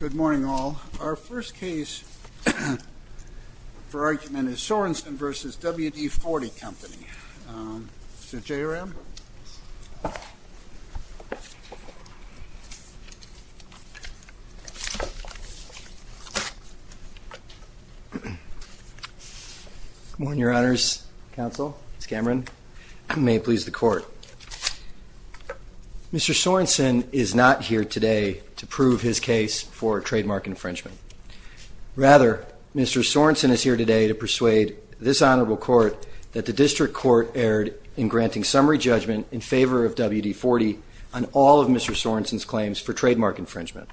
Good morning all. Our first case for argument is Sorensen v. WD-40 Company. Mr. J. Aram. Good morning, Your Honors. Counsel, Ms. Cameron, and may it please the Court. Mr. Sorensen is not here today to prove his case for trademark infringement. Rather, Mr. Sorensen is here today to persuade this Honorable Court that the District Court erred in granting summary judgment in favor of WD-40 on all of Mr. Sorensen's claims for trademark infringement.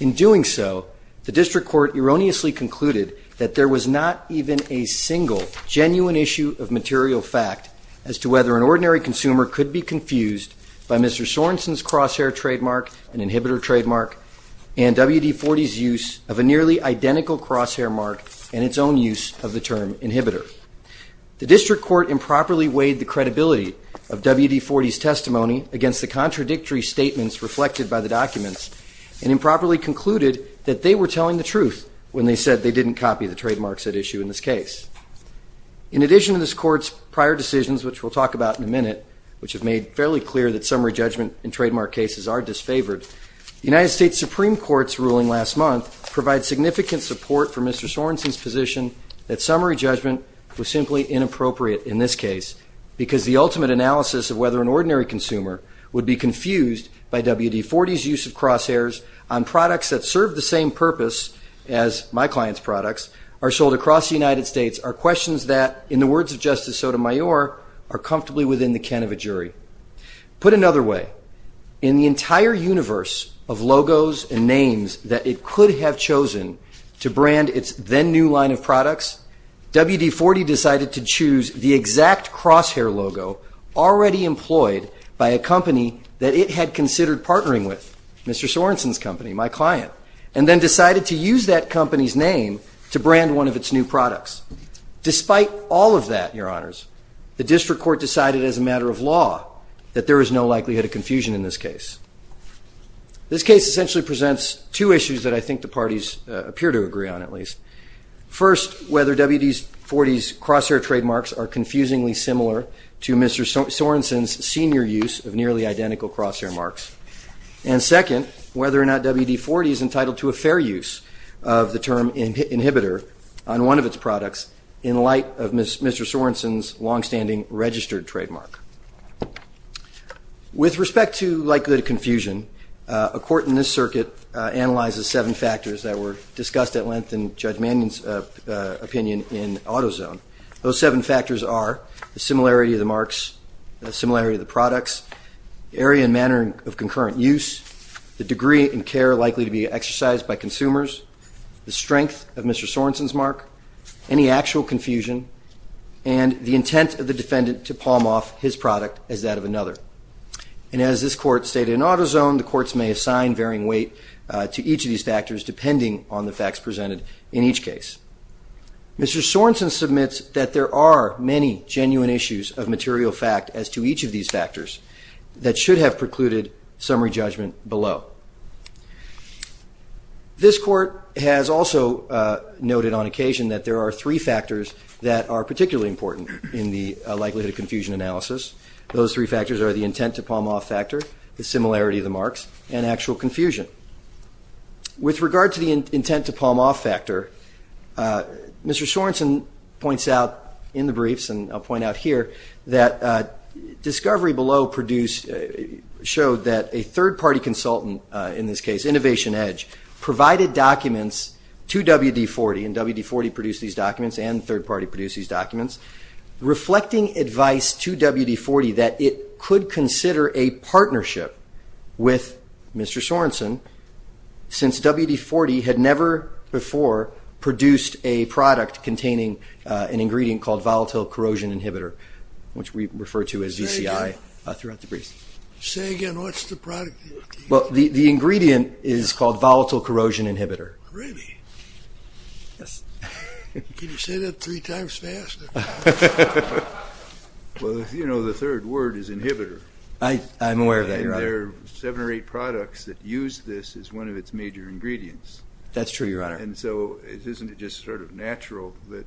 In doing so, the District Court erroneously concluded that there was not even a single genuine issue of material fact as to whether an ordinary consumer could be confused by Mr. Sorensen's crosshair trademark, an inhibitor trademark, and WD-40's use of a nearly identical crosshair mark and its own use of the term inhibitor. The District Court improperly weighed the credibility of WD-40's testimony against the contradictory statements reflected by the documents and improperly concluded that they were telling the truth when they said they didn't copy the trademarks at issue in this case. In addition to this Court's prior decisions, which we'll talk about in a minute, which have made fairly clear that summary judgment in trademark cases are disfavored, the United States Supreme Court's ruling last month provides significant support for Mr. Sorensen's position that summary judgment was simply inappropriate in this case because the ultimate analysis of whether an ordinary consumer would be confused by WD-40's use of crosshairs on products that serve the same purpose as my client's products are sold across the United States only by WD-40. These are questions that, in the words of Justice Sotomayor, are comfortably within the can of a jury. Put another way, in the entire universe of logos and names that it could have chosen to brand its then new line of products, WD-40 decided to choose the exact crosshair logo already employed by a company that it had considered partnering with, Mr. Sorensen's company, my client, and then decided to use that company's name to brand one of its new products. Despite all of that, Your Honors, the district court decided as a matter of law that there is no likelihood of confusion in this case. This case essentially presents two issues that I think the parties appear to agree on, at least. First, whether WD-40's crosshair trademarks are confusingly similar to Mr. Sorensen's senior use of nearly identical crosshair marks. And second, whether or not WD-40 is entitled to a fair use of the term inhibitor on one of its products in light of Mr. Sorensen's longstanding registered trademark. With respect to likelihood of confusion, a court in this circuit analyzes seven factors that were discussed at length in Judge Mannion's opinion in AutoZone. Those seven factors are the similarity of the marks, the similarity of the products, area and manner of concurrent use, the degree and care likely to be exercised by consumers, the strength of Mr. Sorensen's mark, any actual confusion, and the intent of the defendant to palm off his product as that of another. And as this court stated in AutoZone, the courts may assign varying weight to each of these factors depending on the facts presented in each case. Mr. Sorensen submits that there are many genuine issues of material fact as to each of these factors that should have precluded summary judgment below. This court has also noted on occasion that there are three factors that are particularly important in the likelihood of confusion analysis. Those three factors are the intent to palm off factor, the similarity of the marks, and actual confusion. With regard to the intent to palm off factor, Mr. Sorensen points out in the briefs, and I'll point out here, that discovery below showed that a third-party consultant, in this case Innovation Edge, provided documents to WD-40, and WD-40 produced these documents and third-party produced these documents, reflecting advice to WD-40 that it could consider a partnership with Mr. Sorensen since WD-40 had never before produced a product containing an ingredient called volatile corrosion inhibitor. Which we refer to as VCI throughout the briefs. Say again, what's the product? Well, the ingredient is called volatile corrosion inhibitor. Really? Yes. Can you say that three times fast? Well, you know, the third word is inhibitor. I'm aware of that, Your Honor. And there are seven or eight products that use this as one of its major ingredients. That's true, Your Honor. And so isn't it just sort of natural that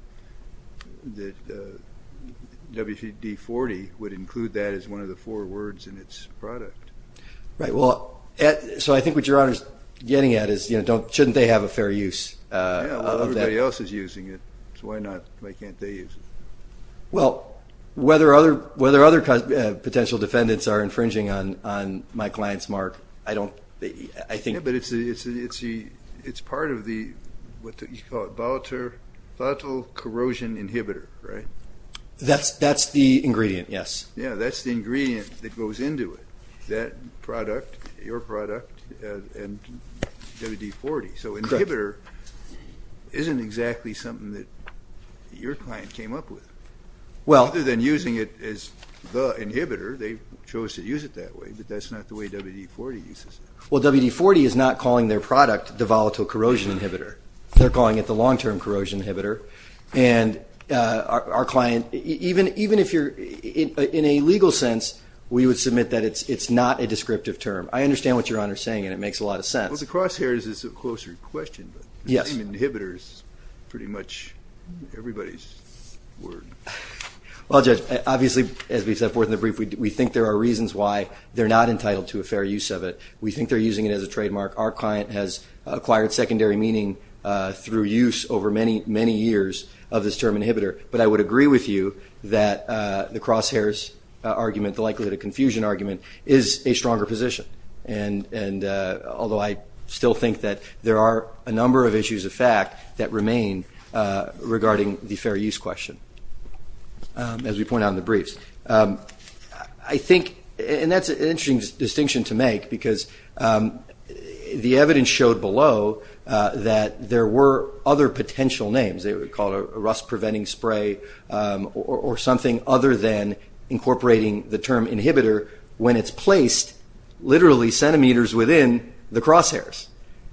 WD-40 would include that as one of the four words in its product? Right. Well, so I think what Your Honor's getting at is, you know, shouldn't they have a fair use of that? Yeah, well, everybody else is using it, so why not? Why can't they use it? Well, whether other potential defendants are infringing on my client's mark, I don't, I think. Yeah, but it's part of the, what do you call it, volatile corrosion inhibitor, right? That's the ingredient, yes. Yeah, that's the ingredient that goes into it, that product, your product, and WD-40. So inhibitor isn't exactly something that your client came up with. Well. Other than using it as the inhibitor, they chose to use it that way, but that's not the way WD-40 uses it. Well, WD-40 is not calling their product the volatile corrosion inhibitor. They're calling it the long-term corrosion inhibitor. And our client, even if you're, in a legal sense, we would submit that it's not a descriptive term. I understand what Your Honor is saying, and it makes a lot of sense. Well, the crosshairs is a closer question, but the name inhibitor is pretty much everybody's word. Well, Judge, obviously, as we set forth in the brief, we think there are reasons why they're not entitled to a fair use of it. We think they're using it as a trademark. Our client has acquired secondary meaning through use over many, many years of this term inhibitor. But I would agree with you that the crosshairs argument, the likelihood of confusion argument, is a stronger position. And although I still think that there are a number of issues of fact that remain regarding the fair use question, as we point out in the briefs. I think, and that's an interesting distinction to make because the evidence showed below that there were other potential names. They would call it a rust-preventing spray or something other than incorporating the term inhibitor when it's placed literally centimeters within the crosshairs.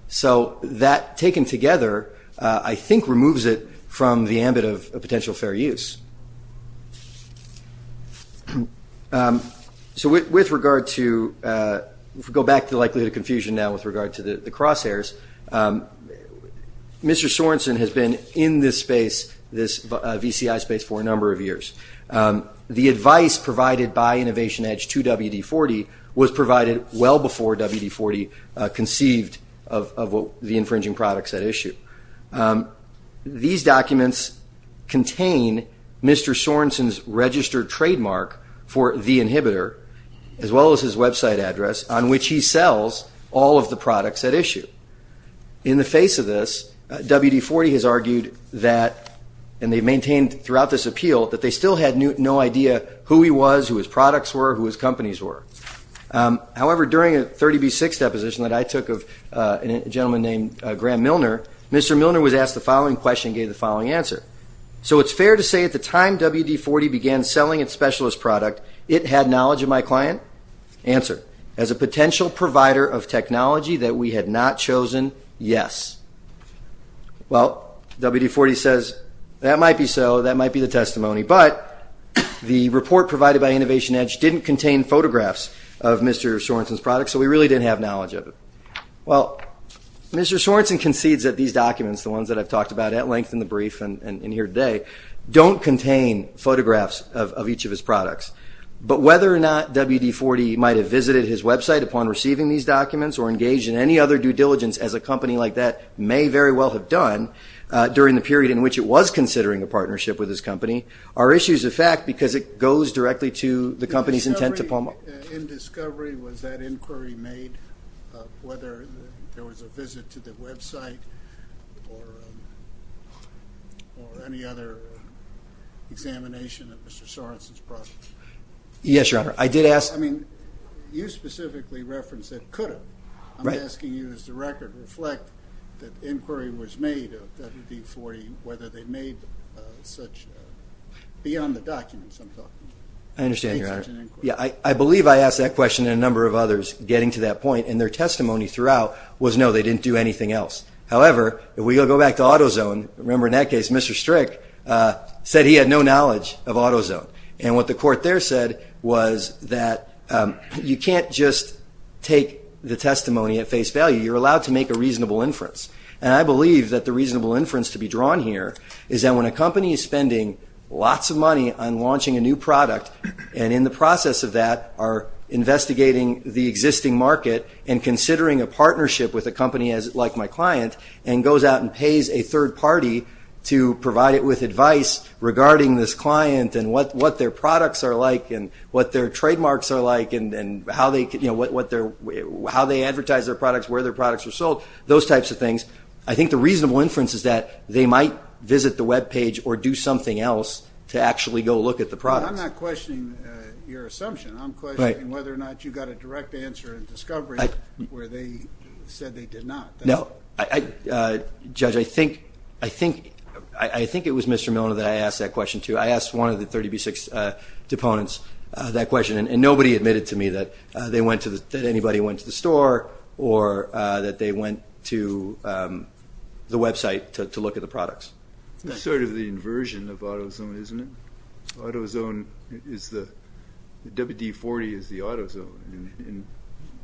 So that taken together, I think, removes it from the ambit of a potential fair use. So with regard to, if we go back to likelihood of confusion now with regard to the crosshairs, Mr. Sorensen has been in this space, this VCI space, for a number of years. The advice provided by InnovationEdge to WD-40 was provided well before WD-40 conceived of the infringing products at issue. These documents contain Mr. Sorensen's registered trademark for the inhibitor, as well as his website address, on which he sells all of the products at issue. In the face of this, WD-40 has argued that, and they've maintained throughout this appeal, that they still had no idea who he was, who his products were, who his companies were. However, during a 30B6 deposition that I took of a gentleman named Graham Milner, Mr. Milner was asked the following question and gave the following answer. So it's fair to say at the time WD-40 began selling its specialist product, it had knowledge of my client? Answer, as a potential provider of technology that we had not chosen, yes. Well, WD-40 says, that might be so, that might be the testimony, but the report provided by InnovationEdge didn't contain photographs of Mr. Sorensen's products, so we really didn't have knowledge of it. Well, Mr. Sorensen concedes that these documents, the ones that I've talked about at length in the brief and here today, don't contain photographs of each of his products. But whether or not WD-40 might have visited his website upon receiving these documents or engaged in any other due diligence as a company like that may very well have done during the period in which it was considering a partnership with his company are issues of fact because it goes directly to the company's intent to promote. In discovery, was that inquiry made of whether there was a visit to the website or any other examination of Mr. Sorensen's products? Yes, Your Honor, I did ask. I mean, you specifically referenced that it could have. I'm asking you, does the record reflect that inquiry was made of WD-40, whether they made such, beyond the documents I'm talking about? I understand, Your Honor. I believe I asked that question and a number of others getting to that point, and their testimony throughout was no, they didn't do anything else. However, if we go back to AutoZone, remember in that case Mr. Strick said he had no knowledge of AutoZone. And what the court there said was that you can't just take the testimony at face value. You're allowed to make a reasonable inference. And I believe that the reasonable inference to be drawn here is that when a company is spending lots of money on launching a new product, and in the process of that are investigating the existing market and considering a partnership with a company like my client, and goes out and pays a third party to provide it with advice regarding this client and what their products are like and what their trademarks are like and how they advertise their products, where their products are sold, those types of things, I think the reasonable inference is that they might visit the web page or do something else to actually go look at the products. I'm not questioning your assumption. I'm questioning whether or not you got a direct answer in discovery where they said they did not. No, Judge, I think it was Mr. Milner that I asked that question to. I asked one of the 30B6 deponents that question, and nobody admitted to me that anybody went to the store or that they went to the website to look at the products. It's sort of the inversion of AutoZone, isn't it? AutoZone is the WD-40 is the AutoZone, and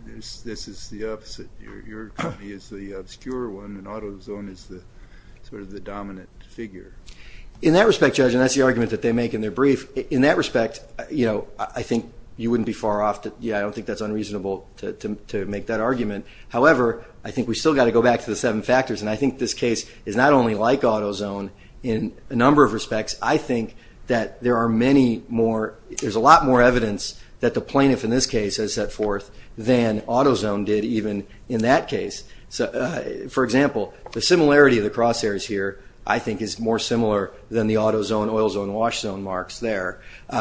this is the opposite. Your company is the obscure one, and AutoZone is sort of the dominant figure. In that respect, Judge, and that's the argument that they make in their brief, in that respect, I think you wouldn't be far off. Yeah, I don't think that's unreasonable to make that argument. However, I think we've still got to go back to the seven factors, and I think this case is not only like AutoZone in a number of respects. I think that there are many more. There's a lot more evidence that the plaintiff in this case has set forth than AutoZone did even in that case. For example, the similarity of the crosshairs here, I think, is more similar than the AutoZone, OilZone, and WashZone marks there.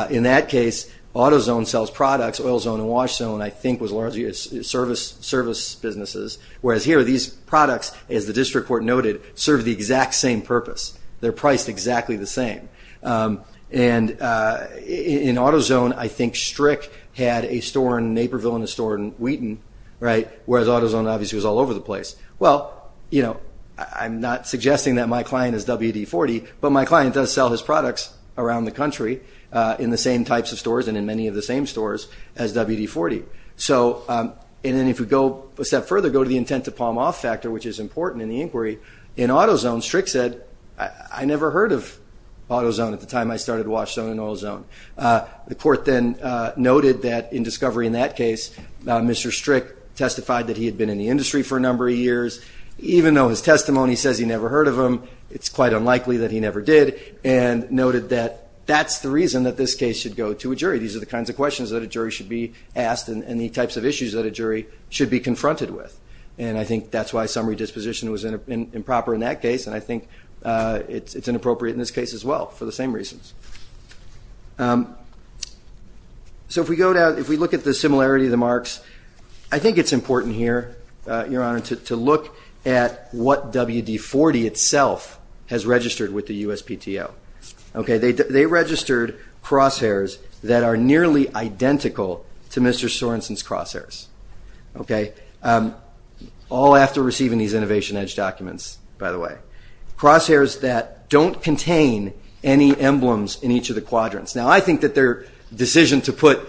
In that case, AutoZone sells products. OilZone and WashZone, I think, was largely service businesses, whereas here, these products, as the district court noted, serve the exact same purpose. They're priced exactly the same. And in AutoZone, I think Strick had a store in Naperville and a store in Wheaton, right, whereas AutoZone obviously was all over the place. Well, you know, I'm not suggesting that my client is WD-40, but my client does sell his products around the country in the same types of stores and in many of the same stores as WD-40. And then if we go a step further, go to the intent to palm off factor, which is important in the inquiry, in AutoZone, Strick said, I never heard of AutoZone at the time I started WashZone and OilZone. The court then noted that in discovery in that case, Mr. Strick testified that he had been in the industry for a number of years. Even though his testimony says he never heard of them, it's quite unlikely that he never did, and noted that that's the reason that this case should go to a jury. These are the kinds of questions that a jury should be asked and the types of issues that a jury should be confronted with. And I think that's why summary disposition was improper in that case, and I think it's inappropriate in this case as well for the same reasons. So if we look at the similarity of the marks, I think it's important here, Your Honor, to look at what WD-40 itself has registered with the USPTO. They registered crosshairs that are nearly identical to Mr. Sorenson's crosshairs, all after receiving these Innovation Edge documents, by the way. Crosshairs that don't contain any emblems in each of the quadrants. Now, I think that their decision to put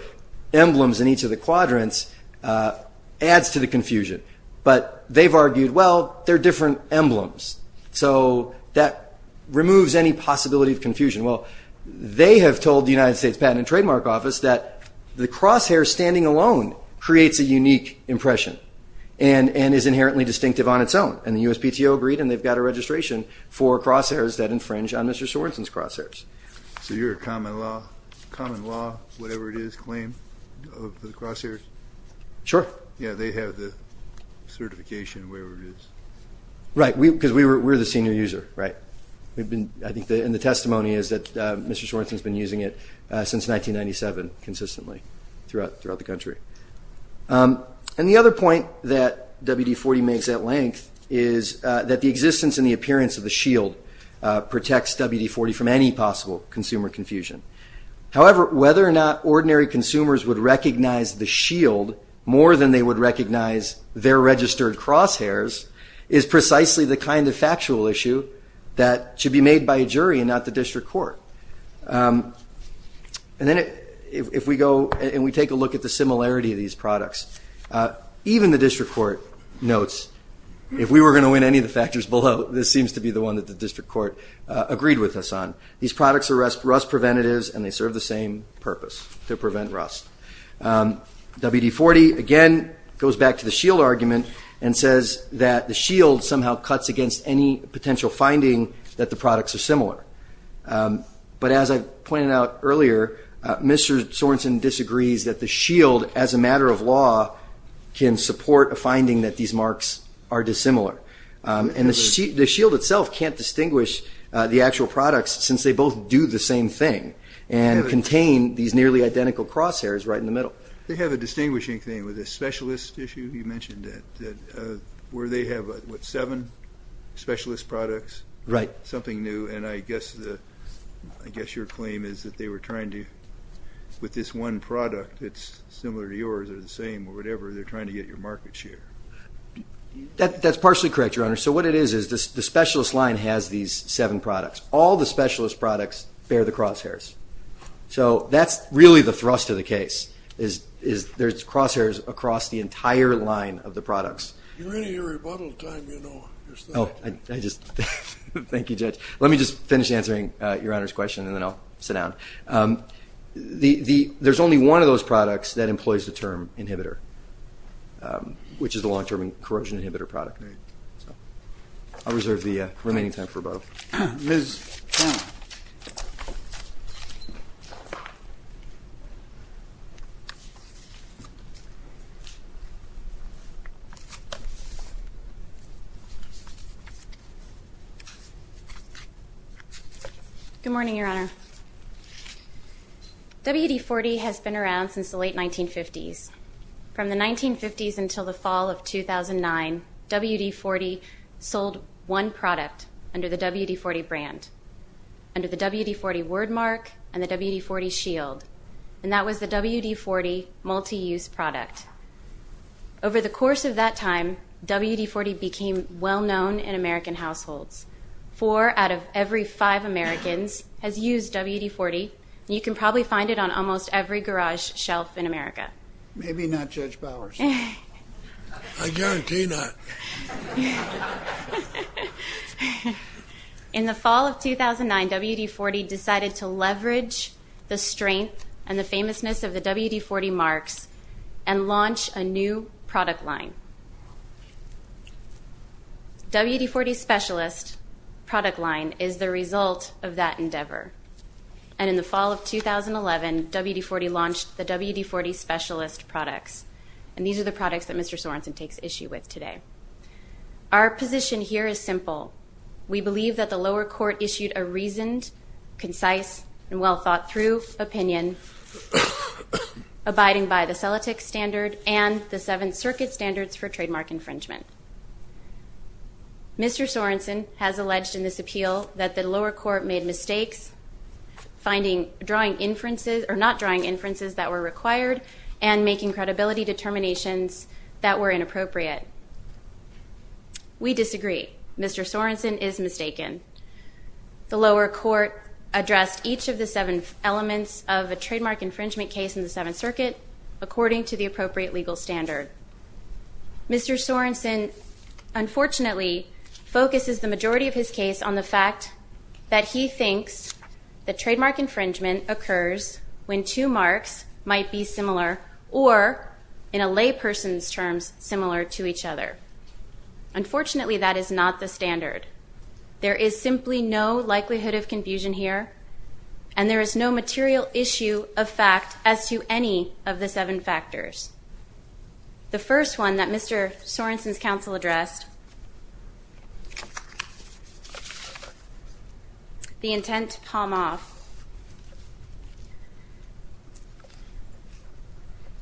emblems in each of the quadrants adds to the confusion, but they've argued, well, they're different emblems, so that removes any possibility of confusion. Well, they have told the United States Patent and Trademark Office that the crosshair standing alone creates a unique impression and is inherently distinctive on its own, and the USPTO agreed and they've got a registration for crosshairs that infringe on Mr. Sorenson's crosshairs. So you're a common law, whatever it is, claim of the crosshairs? Sure. Yeah, they have the certification, whatever it is. Right, because we're the senior user, right? I think in the testimony is that Mr. Sorenson has been using it since 1997 consistently throughout the country. And the other point that WD-40 makes at length is that the existence and the appearance of the shield protects WD-40 from any possible consumer confusion. However, whether or not ordinary consumers would recognize the shield more than they would recognize their registered crosshairs is precisely the kind of factual issue that should be made by a jury and not the district court. And then if we go and we take a look at the similarity of these products, even the district court notes, if we were going to win any of the factors below, this seems to be the one that the district court agreed with us on. These products are rust preventatives and they serve the same purpose, to prevent rust. WD-40, again, goes back to the shield argument and says that the shield somehow cuts against any potential finding that the products are similar. But as I pointed out earlier, Mr. Sorenson disagrees that the shield, as a matter of law, can support a finding that these marks are dissimilar. And the shield itself can't distinguish the actual products since they both do the same thing and contain these nearly identical crosshairs right in the middle. They have a distinguishing thing with the specialist issue. You mentioned that where they have, what, seven specialist products? Right. Something new, and I guess your claim is that they were trying to, with this one product that's similar to yours or the same or whatever, they're trying to get your market share. That's partially correct, Your Honor. So what it is is the specialist line has these seven products. All the specialist products bear the crosshairs. So that's really the thrust of the case is there's crosshairs across the entire line of the products. You're in your rebuttal time, you know. Oh, I just, thank you, Judge. Let me just finish answering Your Honor's question and then I'll sit down. There's only one of those products that employs the term inhibitor, which is the long-term corrosion inhibitor product. I'll reserve the remaining time for rebuttal. Ms. Cannon. Good morning, Your Honor. WD-40 has been around since the late 1950s. From the 1950s until the fall of 2009, WD-40 sold one product under the WD-40 brand, under the WD-40 wordmark and the WD-40 shield, and that was the WD-40 multi-use product. Over the course of that time, WD-40 became well-known in American households. Four out of every five Americans has used WD-40, and you can probably find it on almost every garage shelf in America. Maybe not Judge Bowers. I guarantee that. In the fall of 2009, WD-40 decided to leverage the strength and the famousness of the WD-40 marks and launch a new product line. WD-40's specialist product line is the result of that endeavor, and in the fall of 2011, WD-40 launched the WD-40 specialist products, and these are the products that Mr. Sorensen takes issue with today. Our position here is simple. We believe that the lower court issued a reasoned, concise, and well-thought-through opinion, abiding by the CELATIC standard and the Seventh Circuit standards for trademark infringement. Mr. Sorensen has alleged in this appeal that the lower court made mistakes, not drawing inferences that were required and making credibility determinations that were inappropriate. We disagree. Mr. Sorensen is mistaken. The lower court addressed each of the seven elements of a trademark infringement case in the Seventh Circuit according to the appropriate legal standard. Mr. Sorensen unfortunately focuses the majority of his case on the fact that he thinks that trademark infringement occurs when two marks might be similar or, in a layperson's terms, similar to each other. Unfortunately, that is not the standard. There is simply no likelihood of confusion here, and there is no material issue of fact as to any of the seven factors. The first one that Mr. Sorensen's counsel addressed, the intent to palm off.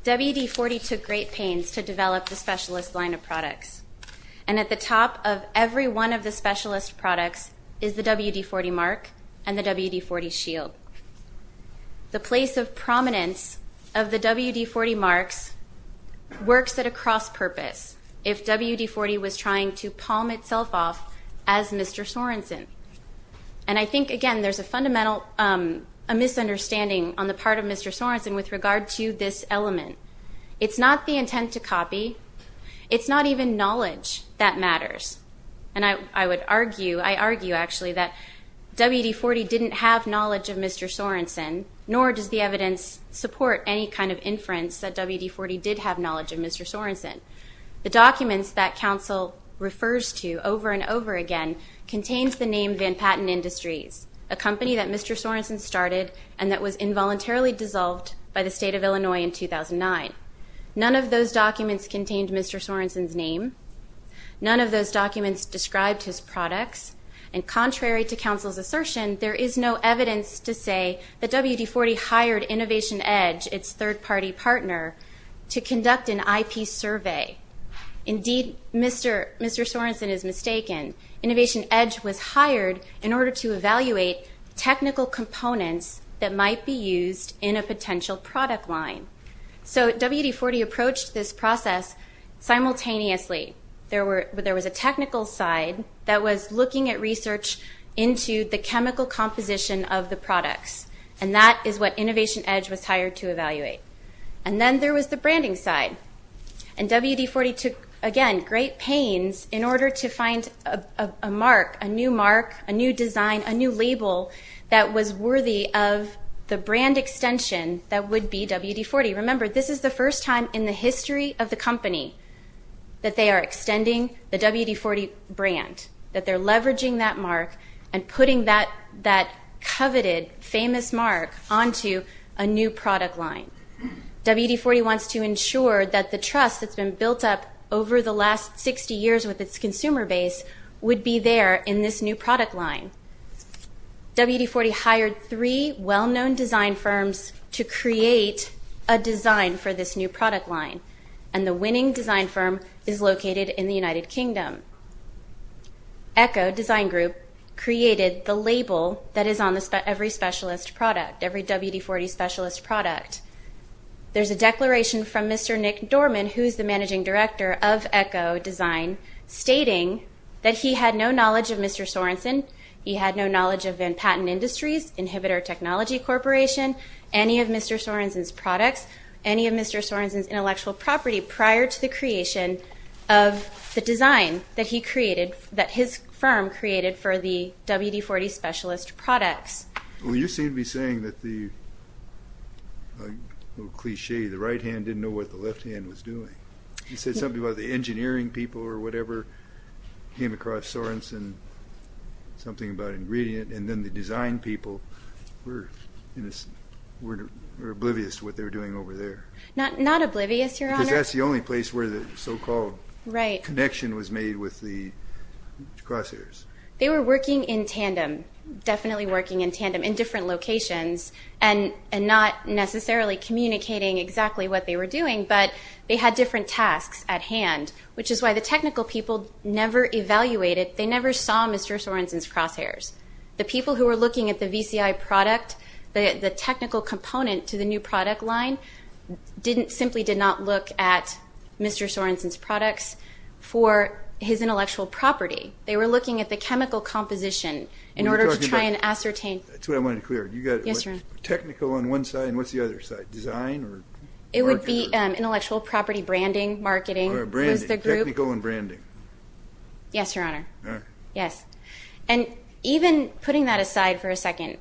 WD-40 took great pains to develop the specialist line of products, and at the top of every one of the specialist products is the WD-40 mark and the WD-40 shield. The place of prominence of the WD-40 marks works at a cross-purpose if WD-40 was trying to palm itself off as Mr. Sorensen. And I think, again, there's a fundamental misunderstanding on the part of Mr. Sorensen with regard to this element. It's not the intent to copy. It's not even knowledge that matters. And I would argue, I argue, actually, that WD-40 didn't have knowledge of Mr. Sorensen, nor does the evidence support any kind of inference that WD-40 did have knowledge of Mr. Sorensen. The documents that counsel refers to over and over again contains the name Van Patten Industries, a company that Mr. Sorensen started and that was involuntarily dissolved by the state of Illinois in 2009. None of those documents contained Mr. Sorensen's name. None of those documents described his products. And contrary to counsel's assertion, there is no evidence to say that WD-40 hired Innovation Edge, its third-party partner, to conduct an IP survey. Indeed, Mr. Sorensen is mistaken. Innovation Edge was hired in order to evaluate technical components that might be used in a potential product line. So WD-40 approached this process simultaneously. There was a technical side that was looking at research into the chemical composition of the products, and that is what Innovation Edge was hired to evaluate. And then there was the branding side. And WD-40 took, again, great pains in order to find a mark, a new mark, a new design, a new label that was worthy of the brand extension that would be WD-40. Remember, this is the first time in the history of the company that they are extending the WD-40 brand, that they're leveraging that mark and putting that coveted, famous mark onto a new product line. WD-40 wants to ensure that the trust that's been built up over the last 60 years with its consumer base would be there in this new product line. WD-40 hired three well-known design firms to create a design for this new product line, and the winning design firm is located in the United Kingdom. Echo Design Group created the label that is on every specialist product, every WD-40 specialist product. There's a declaration from Mr. Nick Dorman, who's the managing director of Echo Design, stating that he had no knowledge of Mr. Sorenson, he had no knowledge of Van Patten Industries, Inhibitor Technology Corporation, any of Mr. Sorenson's products, any of Mr. Sorenson's intellectual property prior to the creation of the design that he created, that his firm created for the WD-40 specialist products. Well, you seem to be saying that the, a little cliche, the right hand didn't know what the left hand was doing. You said something about the engineering people or whatever came across Sorenson, something about ingredient, and then the design people were oblivious to what they were doing over there. Not oblivious, Your Honor. Because that's the only place where the so-called connection was made with the crosshairs. They were working in tandem, definitely working in tandem, in different locations, and not necessarily communicating exactly what they were doing, but they had different tasks at hand, which is why the technical people never evaluated, they never saw Mr. Sorenson's crosshairs. The people who were looking at the VCI product, the technical component to the new product line, simply did not look at Mr. Sorenson's products for his intellectual property. They were looking at the chemical composition in order to try and ascertain. That's what I wanted to clear. Yes, Your Honor. Technical on one side and what's the other side, design or marketing? It would be intellectual property, branding, marketing was the group. Technical and branding. Yes, Your Honor. All right. Yes. And even putting that aside for a second,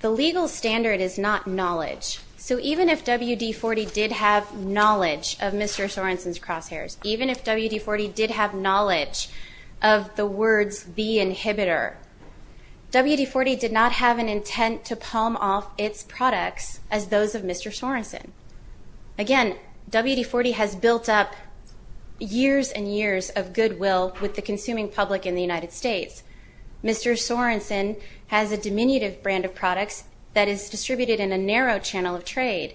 the legal standard is not knowledge. So even if WD-40 did have knowledge of Mr. Sorenson's crosshairs, even if WD-40 did have knowledge of the words, the inhibitor, WD-40 did not have an intent to palm off its products as those of Mr. Sorenson. Again, WD-40 has built up years and years of goodwill with the consuming public in the United States. Mr. Sorenson has a diminutive brand of products that is distributed in a narrow channel of trade,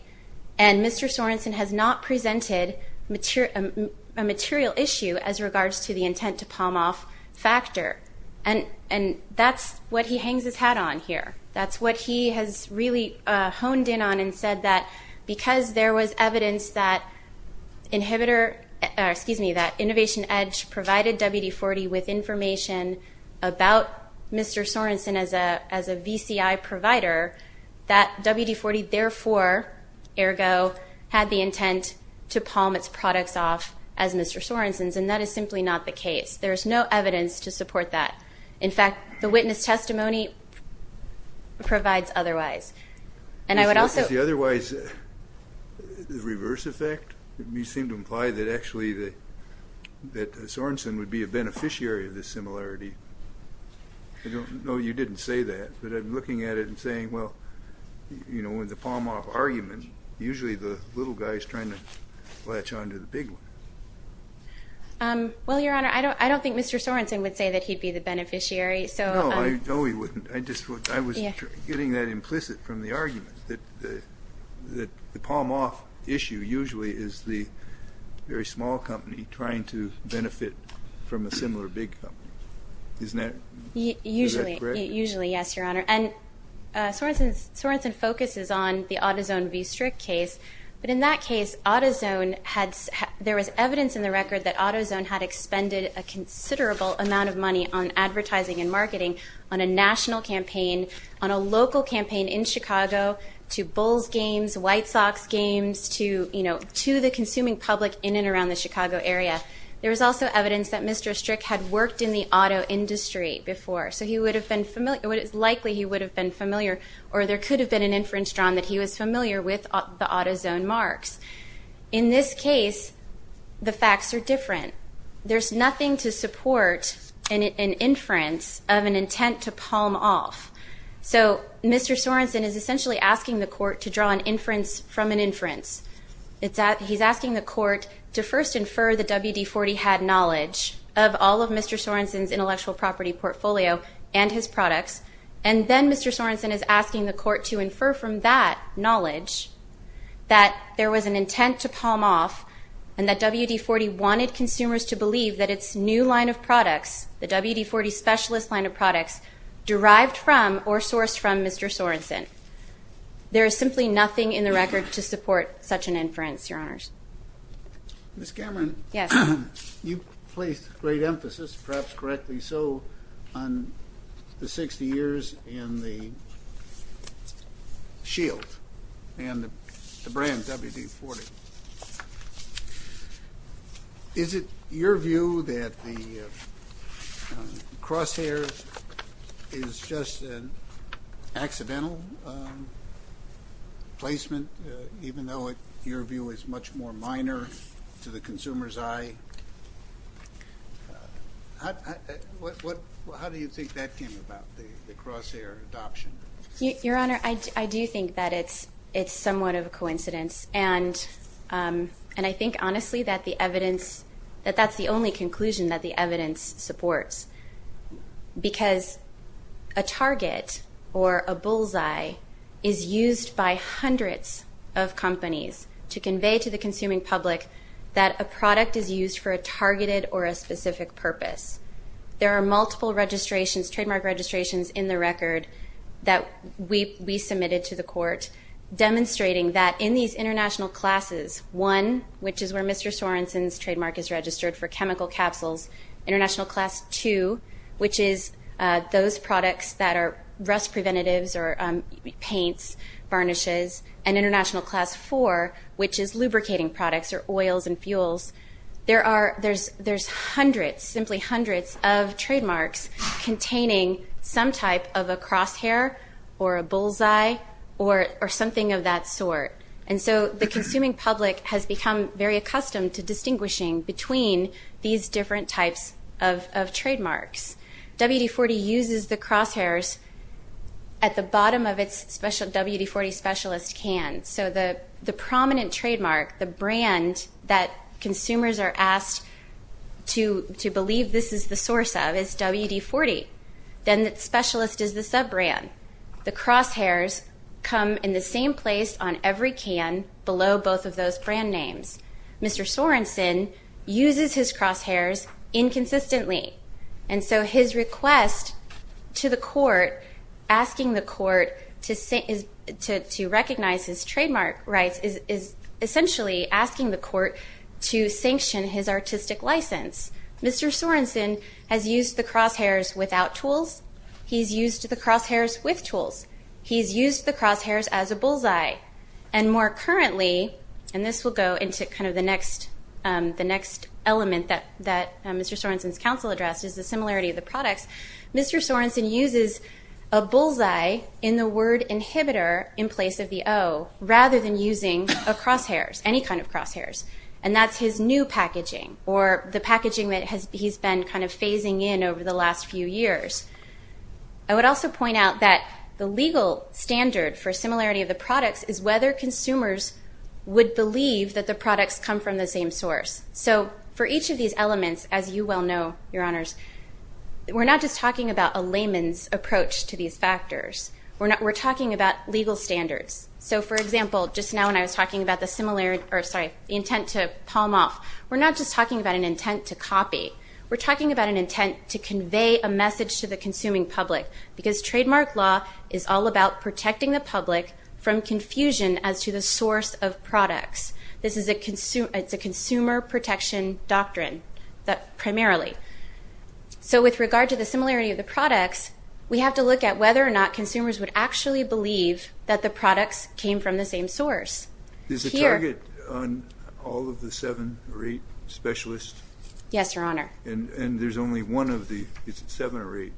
and Mr. Sorenson has not presented a material issue as regards to the intent to palm off factor. And that's what he hangs his hat on here. That's what he has really honed in on and said that because there was evidence that inhibitor or, excuse me, that Innovation Edge provided WD-40 with information about Mr. Sorenson as a VCI provider, that WD-40 therefore, ergo, had the intent to palm its products off as Mr. Sorenson's, and that is simply not the case. There is no evidence to support that. In fact, the witness testimony provides otherwise. And I would also – Is the otherwise the reverse effect? You seem to imply that actually that Sorenson would be a beneficiary of this similarity. No, you didn't say that. But I'm looking at it and saying, well, you know, with the palm off argument, usually the little guy is trying to latch on to the big one. Well, Your Honor, I don't think Mr. Sorenson would say that he'd be the beneficiary. No, he wouldn't. I was getting that implicit from the argument, that the palm off issue usually is the very small company trying to benefit from a similar big company. Isn't that correct? Usually, yes, Your Honor. And Sorenson focuses on the AutoZone v. Strick case. But in that case, AutoZone had – there was evidence in the record that AutoZone had expended a considerable amount of money on advertising and marketing on a national campaign, on a local campaign in Chicago, to Bulls games, White Sox games, to, you know, to the consuming public in and around the Chicago area. There was also evidence that Mr. Strick had worked in the auto industry before. So he would have been – it's likely he would have been familiar or there could have been an inference drawn that he was familiar with the AutoZone marks. In this case, the facts are different. There's nothing to support an inference of an intent to palm off. So Mr. Sorenson is essentially asking the court to draw an inference from an inference. He's asking the court to first infer that WD-40 had knowledge of all of Mr. Sorenson's intellectual property portfolio and his products. And then Mr. Sorenson is asking the court to infer from that knowledge that there was an intent to palm off and that WD-40 wanted consumers to believe that its new line of products, the WD-40 specialist line of products, derived from or sourced from Mr. Sorenson. There is simply nothing in the record to support such an inference, Your Honors. Ms. Cameron, you placed great emphasis, perhaps correctly so, on the 60 years and the Shield and the brand WD-40. Is it your view that the crosshair is just an accidental placement, even though your view is much more minor to the consumer's eye? How do you think that came about, the crosshair adoption? Your Honor, I do think that it's somewhat of a coincidence. And I think, honestly, that that's the only conclusion that the evidence supports. Because a target or a bullseye is used by hundreds of companies to convey to the consuming public that a product is used for a targeted or a specific purpose. There are multiple registrations, trademark registrations, in the record that we submitted to the court demonstrating that in these international classes, one, which is where Mr. Sorenson's trademark is registered for chemical capsules, international class two, which is those products that are rust preventatives or paints, varnishes, and international class four, which is lubricating products or oils and fuels. There's hundreds, simply hundreds, of trademarks containing some type of a crosshair or a bullseye or something of that sort. And so the consuming public has become very accustomed to distinguishing between these different types of trademarks. WD-40 uses the crosshairs at the bottom of its WD-40 specialist can. So the prominent trademark, the brand that consumers are asked to believe this is the source of, is WD-40. Then the specialist is the sub-brand. The crosshairs come in the same place on every can below both of those brand names. Mr. Sorenson uses his crosshairs inconsistently. And so his request to the court, asking the court to recognize his trademark rights, is essentially asking the court to sanction his artistic license. Mr. Sorenson has used the crosshairs without tools. He's used the crosshairs with tools. He's used the crosshairs as a bullseye. And more currently, and this will go into kind of the next element that Mr. Sorenson's counsel addressed, is the similarity of the products. Mr. Sorenson uses a bullseye in the word inhibitor in place of the O rather than using a crosshairs, any kind of crosshairs, and that's his new packaging or the packaging that he's been kind of phasing in over the last few years. I would also point out that the legal standard for similarity of the products is whether consumers would believe that the products come from the same source. So for each of these elements, as you well know, Your Honors, we're not just talking about a layman's approach to these factors. We're talking about legal standards. So, for example, just now when I was talking about the intent to palm off, we're not just talking about an intent to copy. We're talking about an intent to convey a message to the consuming public because trademark law is all about protecting the public from confusion as to the source of products. This is a consumer protection doctrine, primarily. So with regard to the similarity of the products, we have to look at whether or not consumers would actually believe that the products came from the same source. Is the target on all of the seven or eight specialists? Yes, Your Honor. And there's only one of the – is it seven or eight?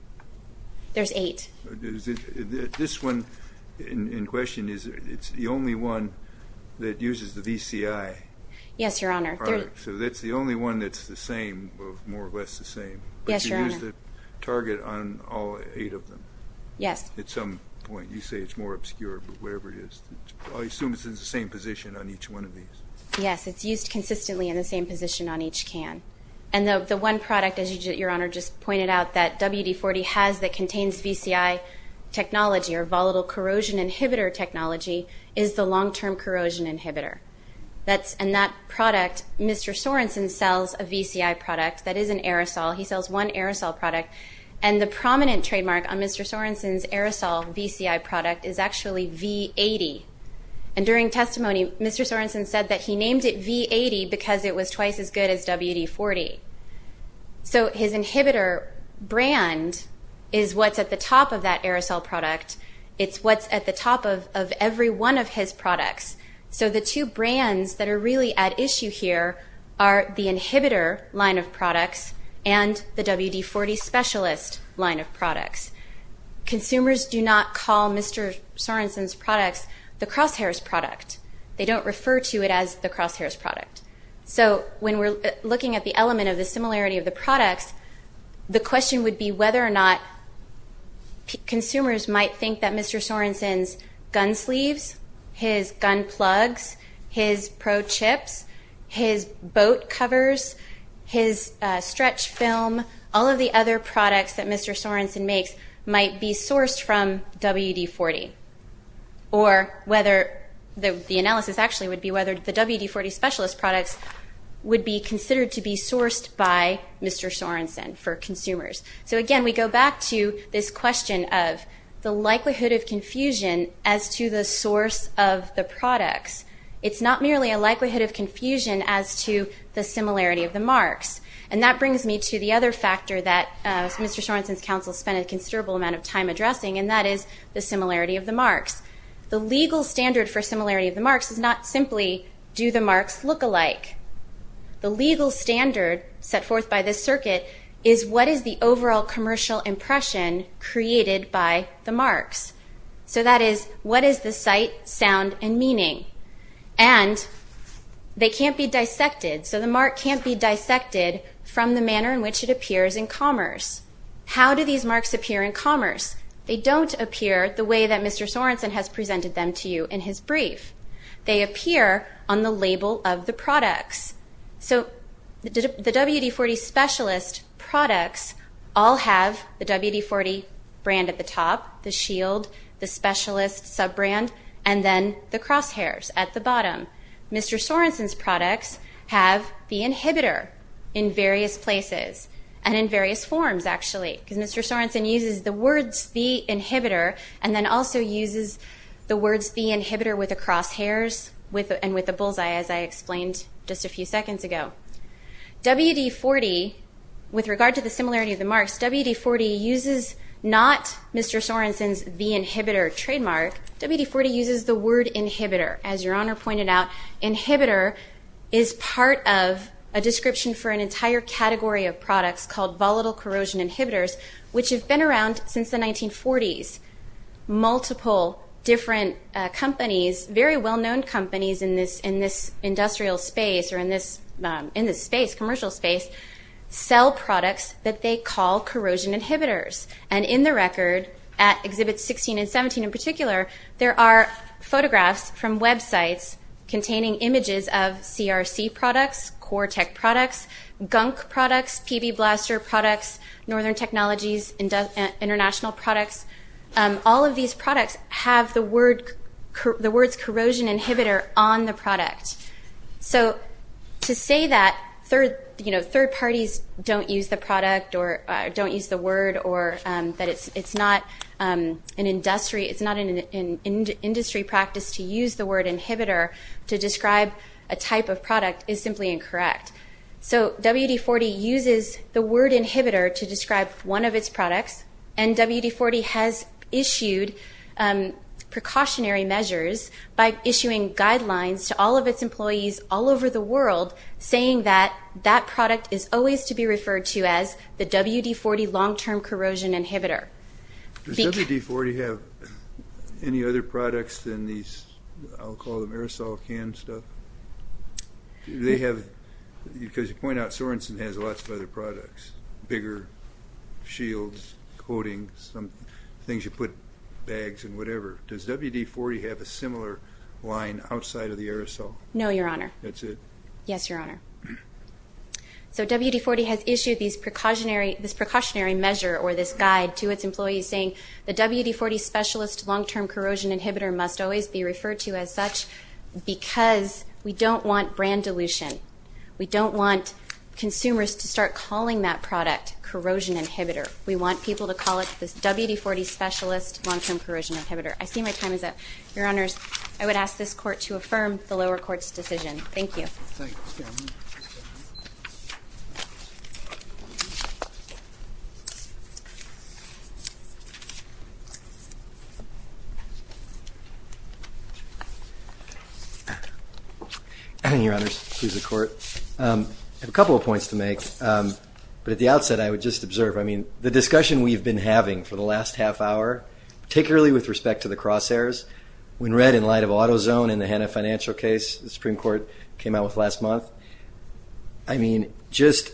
There's eight. This one in question, it's the only one that uses the VCI. Yes, Your Honor. So that's the only one that's the same, more or less the same. Yes, Your Honor. But you use the target on all eight of them? Yes. At some point. You say it's more obscure, but whatever it is. I assume it's in the same position on each one of these. Yes, it's used consistently in the same position on each can. And the one product, as Your Honor just pointed out, that WD-40 has that contains VCI technology or volatile corrosion inhibitor technology is the long-term corrosion inhibitor. And that product, Mr. Sorensen sells a VCI product that is an aerosol. He sells one aerosol product, and the prominent trademark on Mr. Sorensen's aerosol VCI product is actually V80. And during testimony, Mr. Sorensen said that he named it V80 because it was twice as good as WD-40. So his inhibitor brand is what's at the top of that aerosol product. It's what's at the top of every one of his products. So the two brands that are really at issue here are the inhibitor line of products and the WD-40 specialist line of products. Consumers do not call Mr. Sorensen's products the Crosshairs product. They don't refer to it as the Crosshairs product. So when we're looking at the element of the similarity of the products, the question would be whether or not consumers might think that Mr. Sorensen's gun sleeves, his gun plugs, his pro-chips, his boat covers, his stretch film, all of the other products that Mr. Sorensen makes might be sourced from WD-40, or whether the analysis actually would be whether the WD-40 specialist products would be considered to be sourced by Mr. Sorensen for consumers. So, again, we go back to this question of the likelihood of confusion as to the source of the products. It's not merely a likelihood of confusion as to the similarity of the marks. And that brings me to the other factor that Mr. Sorensen's counsel spent a considerable amount of time addressing, and that is the similarity of the marks. The legal standard for similarity of the marks is not simply do the marks look alike. The legal standard set forth by this circuit is what is the overall commercial impression created by the marks. So that is, what is the sight, sound, and meaning? And they can't be dissected. So the mark can't be dissected from the manner in which it appears in commerce. How do these marks appear in commerce? They don't appear the way that Mr. Sorensen has presented them to you in his brief. They appear on the label of the products. So the WD-40 specialist products all have the WD-40 brand at the top, the shield, the specialist sub-brand, and then the crosshairs at the bottom. Mr. Sorensen's products have the inhibitor in various places and in various forms, actually, because Mr. Sorensen uses the words the inhibitor and then also uses the words the inhibitor with the crosshairs and with the bullseye, as I explained just a few seconds ago. WD-40, with regard to the similarity of the marks, WD-40 uses not Mr. Sorensen's the inhibitor trademark. WD-40 uses the word inhibitor. As Your Honor pointed out, inhibitor is part of a description for an entire category of products called volatile corrosion inhibitors, which have been around since the 1940s. Multiple different companies, very well-known companies in this industrial space or in this space, commercial space, sell products that they call corrosion inhibitors. And in the record, at Exhibits 16 and 17 in particular, there are photographs from websites containing images of All of these products have the words corrosion inhibitor on the product. So to say that third parties don't use the product or don't use the word or that it's not an industry practice to use the word inhibitor to describe a type of product is simply incorrect. So WD-40 uses the word inhibitor to describe one of its products. And WD-40 has issued precautionary measures by issuing guidelines to all of its employees all over the world saying that that product is always to be referred to as the WD-40 long-term corrosion inhibitor. Does WD-40 have any other products than these, I'll call them aerosol can stuff? Because you point out Sorenson has lots of other products, bigger shields, coatings, things you put in bags and whatever. Does WD-40 have a similar line outside of the aerosol? No, Your Honor. That's it? Yes, Your Honor. So WD-40 has issued this precautionary measure or this guide to its employees saying the WD-40 specialist long-term corrosion inhibitor must always be referred to as such because we don't want brand dilution. We don't want consumers to start calling that product corrosion inhibitor. We want people to call it this WD-40 specialist long-term corrosion inhibitor. I see my time is up. Your Honors, I would ask this Court to affirm the lower court's decision. Thank you. Thank you, Chairman. Your Honors, please, the Court. I have a couple of points to make, but at the outset I would just observe. I mean, the discussion we've been having for the last half hour, particularly with respect to the crosshairs, when read in light of AutoZone in the Hanna Financial case the Supreme Court came out with last month, I mean, just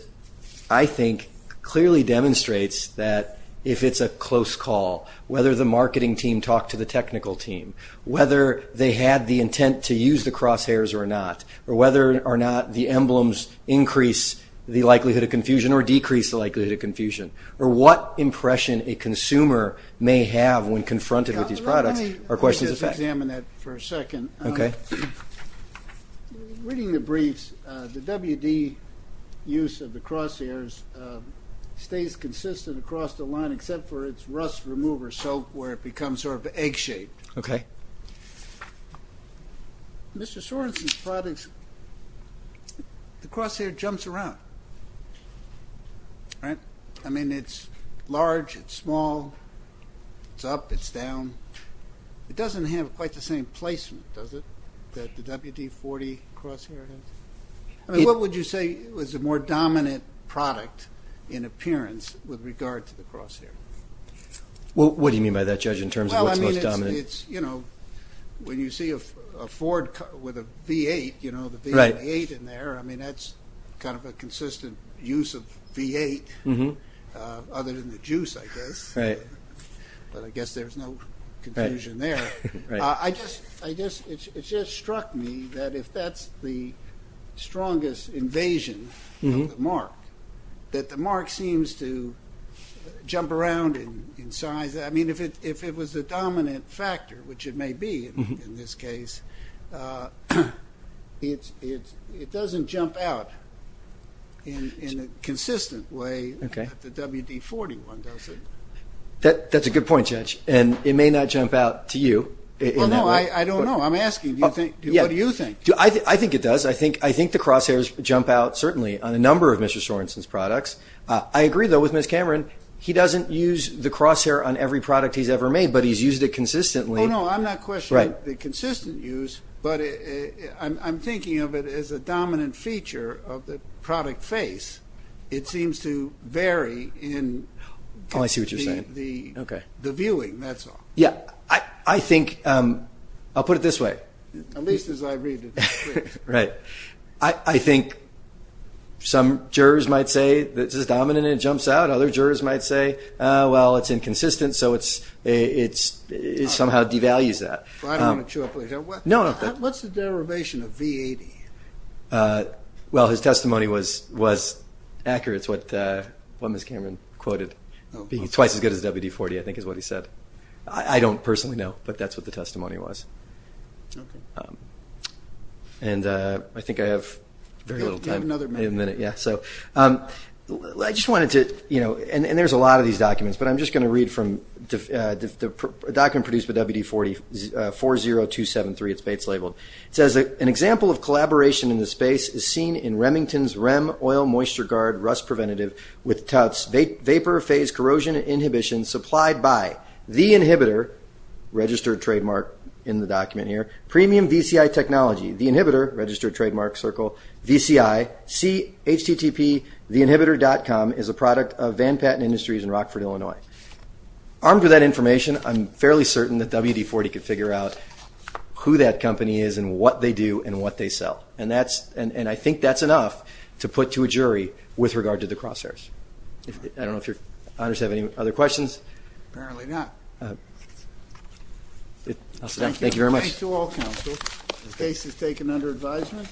I think clearly demonstrates that if it's a close call, whether the marketing team talked to the technical team, whether they had the intent to use the crosshairs or not, or whether or not the emblems increase the likelihood of confusion or decrease the likelihood of confusion, or what impression a consumer may have when confronted with these products, are questions of fact. Let me just examine that for a second. Okay. Reading the briefs, the WD use of the crosshairs stays consistent across the line, except for its rust remover soap where it becomes sort of egg-shaped. Okay. Mr. Sorensen's products, the crosshair jumps around, right? I mean, it's large, it's small, it's up, it's down. It doesn't have quite the same placement, does it, that the WD-40 crosshair has? I mean, what would you say is the more dominant product in appearance with regard to the crosshair? What do you mean by that, Judge, in terms of what's most dominant? Well, I mean, it's, you know, when you see a Ford with a V8, you know, the V8 in there, I mean, that's kind of a consistent use of V8 other than the juice, I guess. Right. But I guess there's no confusion there. Right. I guess it just struck me that if that's the strongest invasion of the mark, that the mark seems to jump around in size. I mean, if it was the dominant factor, which it may be in this case, it doesn't jump out in a consistent way that the WD-40 one does it. That's a good point, Judge, and it may not jump out to you. Well, no, I don't know. I'm asking, what do you think? I think it does. I think the crosshairs jump out certainly on a number of Mr. Sorensen's products. I agree, though, with Ms. Cameron. He doesn't use the crosshair on every product he's ever made, but he's used it consistently. Oh, no, I'm not questioning. Right. It's a consistent use, but I'm thinking of it as a dominant feature of the product face. It seems to vary in the viewing. That's all. Yeah. I think I'll put it this way. At least as I read it. Right. I think some jurors might say this is dominant and it jumps out. Other jurors might say, well, it's inconsistent, so it somehow devalues that. What's the derivation of V80? Well, his testimony was accurate. It's what Ms. Cameron quoted, being twice as good as WD-40, I think is what he said. I don't personally know, but that's what the testimony was. Okay. And I think I have very little time. You have another minute. I just wanted to, and there's a lot of these documents, but I'm just going to read from a document produced by WD-40 273, it's Bates labeled. It says, an example of collaboration in this space is seen in Remington's REM oil moisture guard rust preventative with TOUT's vapor phase corrosion inhibition supplied by The Inhibitor, registered trademark in the document here, premium VCI technology. The Inhibitor, registered trademark circle, VCI, see http, theinhibitor.com, is a product of Van Patten Industries in Rockford, Illinois. Armed with that information, I'm fairly certain that WD-40 could figure out who that company is and what they do and what they sell. And I think that's enough to put to a jury with regard to the crosshairs. I don't know if your honors have any other questions. Apparently not. Thank you very much. Thank you. Thanks to all counsel. The case is taken under advisement.